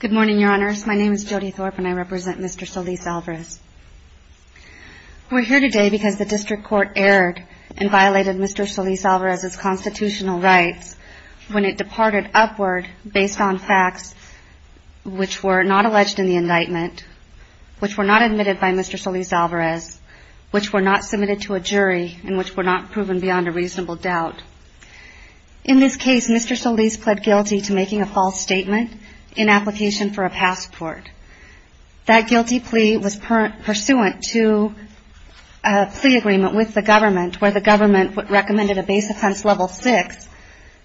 Good morning, Your Honors. My name is Jody Thorpe and I represent Mr. Solis-Alvarez. We're here today because the District Court erred and violated Mr. Solis-Alvarez's constitutional rights when it departed upward based on facts which were not alleged in the indictment, which were not admitted by Mr. Solis-Alvarez, which were not submitted to a jury, and which were not proven beyond a reasonable doubt. In this case, Mr. Solis pled guilty to making a false statement in application for a passport. That guilty plea was pursuant to a plea agreement with the government where the government recommended a base offense level six,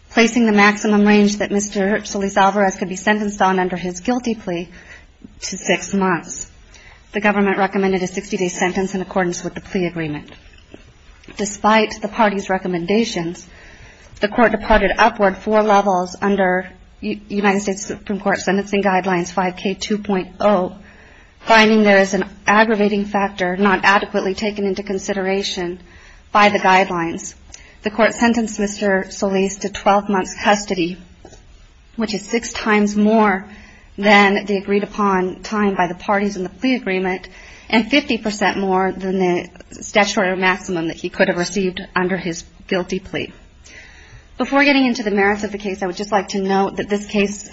placing the maximum range that Mr. Solis-Alvarez could be sentenced on under his guilty plea to six months. The government recommended a 60-day sentence in accordance with the plea agreement. Despite the party's recommendations, the court departed upward four levels under United States Supreme Court Sentencing Guidelines 5K2.0, finding there is an aggravating factor not adequately taken into consideration by the guidelines. The court sentenced Mr. Solis to 12 months custody, which is six times more than the agreed-upon time by the parties in the plea agreement. Before getting into the merits of the case, I would just like to note that this case,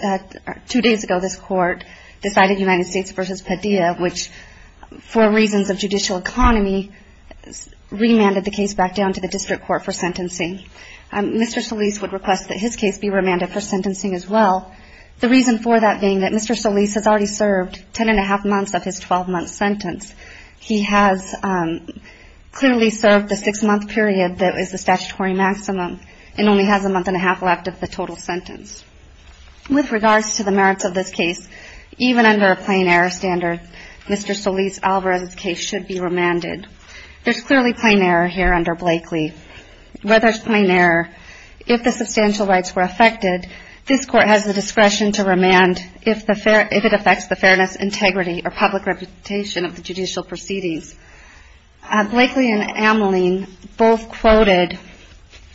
two days ago, this court decided United States v. Padilla, which, for reasons of judicial economy, remanded the case back down to the district court for sentencing. Mr. Solis would request that his case be remanded for sentencing as well. The reason for that being that Mr. Solis has already served ten and a half months of his 12-month sentence. He has clearly served the six-month period that is the statutory maximum and only has a month and a half left of the total sentence. With regards to the merits of this case, even under a plain error standard, Mr. Solis Alvarez's case should be remanded. There is clearly plain error here under Blakely. Where there is plain error, if the substantial rights were affected, this court has the discretion to remand if it affects the fairness, integrity or public reputation of the judicial proceedings. Blakely and Ameline both quoted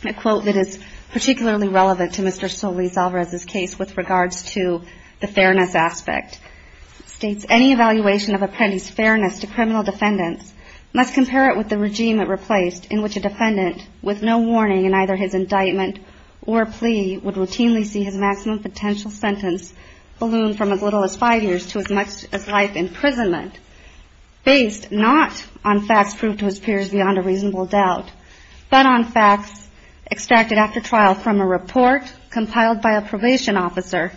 a quote that is particularly relevant to Mr. Solis Alvarez's case with regards to the fairness aspect. It states, any evaluation of an apprentice's fairness to criminal defendants must compare it with the regime it replaced in which a defendant, with no warning in either his indictment or plea, would routinely see his maximum potential sentence balloon from as little as five years to as much as life imprisonment, based not on facts proved to his peers beyond a reasonable doubt, but on facts extracted after trial from a report compiled by a probation officer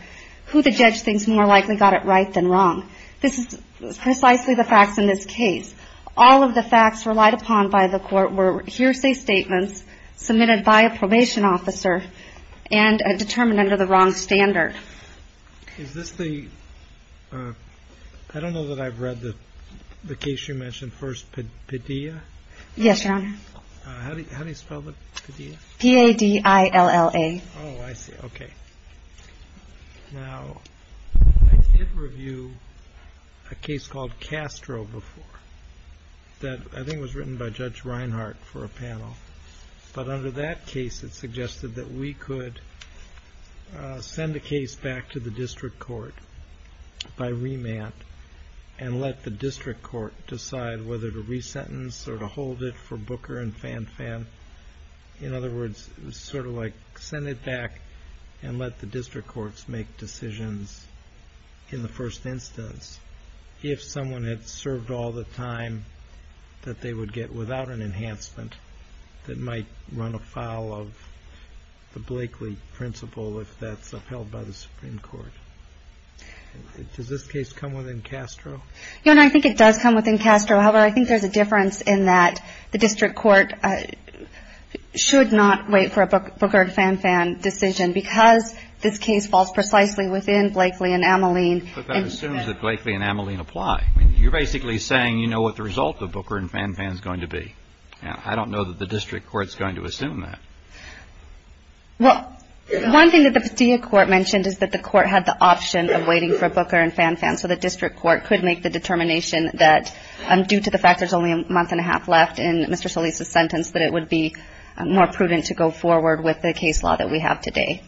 who the judge thinks more likely got it right than wrong. This is precisely the facts in this case. All of the facts relied upon by the court were hearsay statements submitted by a probation officer and determined under the wrong standard. Is this the, I don't know that I've read the case you mentioned first, Padilla? Yes, your honor. How do you spell that? P-A-D-I-L-L-A. Oh, I see, okay. Now, I did review a case called Castro before that I think was written by Judge Reinhart for a panel, but under that case it suggested that we could send a case back to the district court by remand and let the district court decide whether to re-sentence or to hold it for Booker and Fan Fan. In other words, sort of like send it back and let the district courts make decisions in the first instance. If someone had served all the time that they would get without an enhancement that might run afoul of the Blakeley principle if that's upheld by the Supreme Court. Does this case come within Castro? Your honor, I think it does come within Castro. However, I think there's a difference in that the district court should not wait for a Booker and Fan Fan decision because this case falls precisely within Blakeley and Amoline. But that assumes that Blakeley and Amoline apply. You're basically saying you know what the result of Booker and Fan Fan is going to be. Now, I don't know that the district court is going to assume that. Well, one thing that the Padilla court mentioned is that the court had the option of waiting for Booker and Fan Fan so the district court could make the determination that due to the fact there's only a month and a half left in Mr. Solis' sentence that it would be more prudent to go forward with the case law that we have today.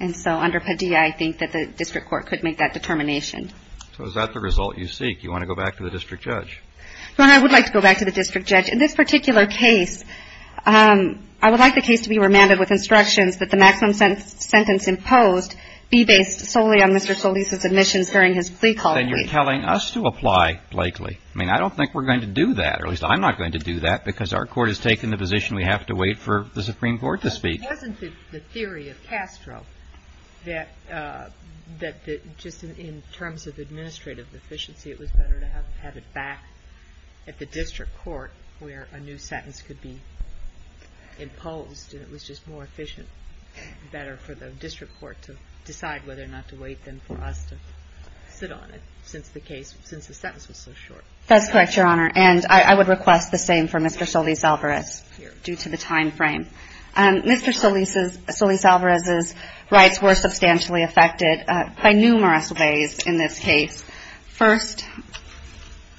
And so under Padilla I think that the district court could make that determination. So is that the result you seek? You want to go back to the district judge? Your honor, I would like to go back to the district judge. In this particular case, I would like the case to be remanded with instructions that the maximum sentence imposed be based solely on Mr. Solis' admissions during his plea call plea. Then you're telling us to apply Blakeley. I mean, I don't think we're going to do that, or at least I'm not going to do that because our court has taken the position we have to wait for the Supreme Court to speak. It wasn't the theory of Castro that just in terms of administrative efficiency, it was better to have it back at the district court where a new sentence could be imposed and it was just more efficient, better for the district court to decide whether or not to wait than for us to sit on it since the case, since the sentence was so short. That's correct, Your Honor. And I would request the same for Mr. Solis Alvarez due to the timeframe. Mr. Solis Alvarez's rights were substantially affected by numerous ways in this case. First,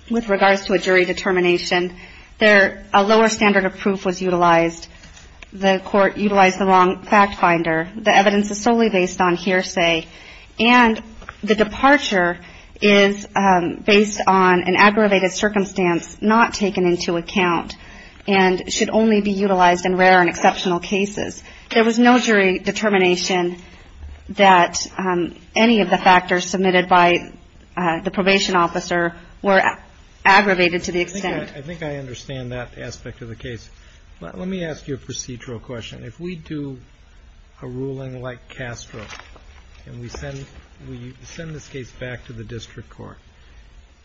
with regards to a jury determination, a lower standard of proof was utilized. The court utilized the wrong fact finder. The evidence is solely based on hearsay. And the departure is based on an aggravated circumstance not taken into account and should only be utilized in rare and exceptional cases. There was no jury determination that any of the factors submitted by the probation officer were aggravated to the extent. I think I understand that aspect of the case. Let me ask you a procedural question. If we do a ruling like Castro and we send this case back to the district court,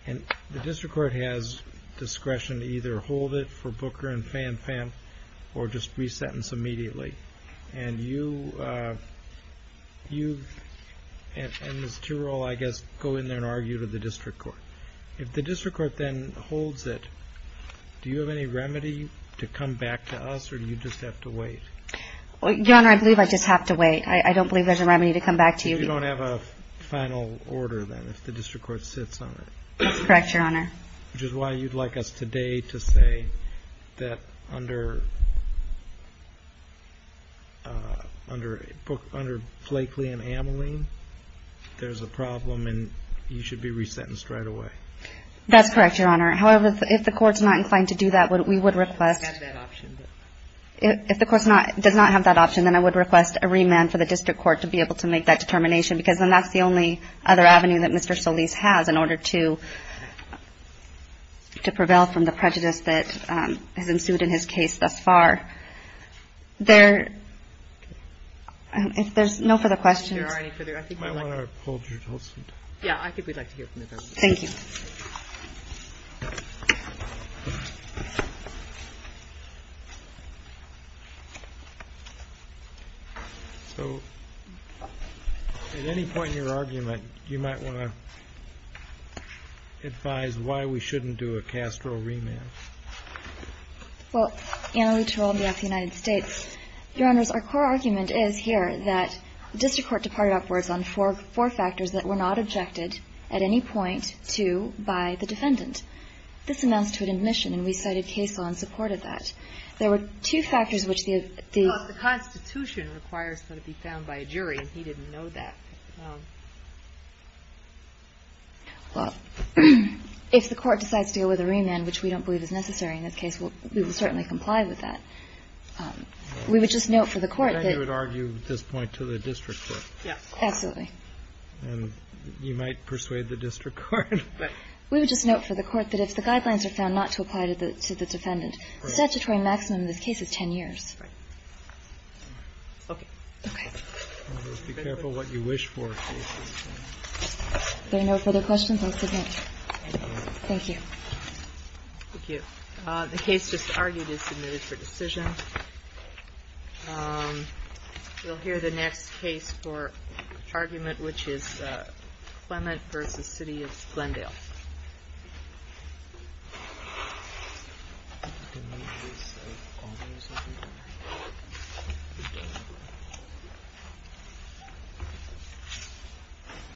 and the district court has discretion to either hold it for Booker and FanFam or just resentence immediately, and you and Ms. Tirole, I guess, go in there and argue to the district court, if the district court then holds it, do you have any remedy to come back to us, or do you just have to wait? Your Honor, I believe I just have to wait. I don't believe there's a remedy to come back to you. Well, if you don't have a final order, then, if the district court sits on it. That's correct, Your Honor. Which is why you'd like us today to say that under Flakely and Ameline, there's a problem and you should be resentenced right away. That's correct, Your Honor. However, if the court's not inclined to do that, we would request. It does not have that option. If the court does not have that option, then I would request a remand for the district court to be able to make that determination because then that's the only other avenue that Mr. Solis has in order to prevail from the prejudice that has ensued in his case thus far. If there's no further questions. There are any further. I think we'd like to hear from you. Yeah, I think we'd like to hear from you. Thank you. So, at any point in your argument, you might want to advise why we shouldn't do a Castro remand. Well, Anna Lutero on behalf of the United States. Your Honors, our core argument is here that district court departed upwards on four factors that were not objected at any point to by the defendant. This amounts to an admission, and we cited case law in support of that. There were two factors which the. Well, the Constitution requires that it be found by a jury, and he didn't know that. Well, if the court decides to go with a remand, which we don't believe is necessary in this case, we will certainly comply with that. We would just note for the court that. You would argue at this point to the district court. Yes. Absolutely. And you might persuade the district court, but. We would just note for the court that if the guidelines are found not to apply to the defendant, statutory maximum in this case is 10 years. Right. Okay. Okay. Be careful what you wish for. If there are no further questions, I'll submit. Thank you. Thank you. The case just argued is submitted for decision. We'll hear the next case for argument, which is Clement versus city of Glendale.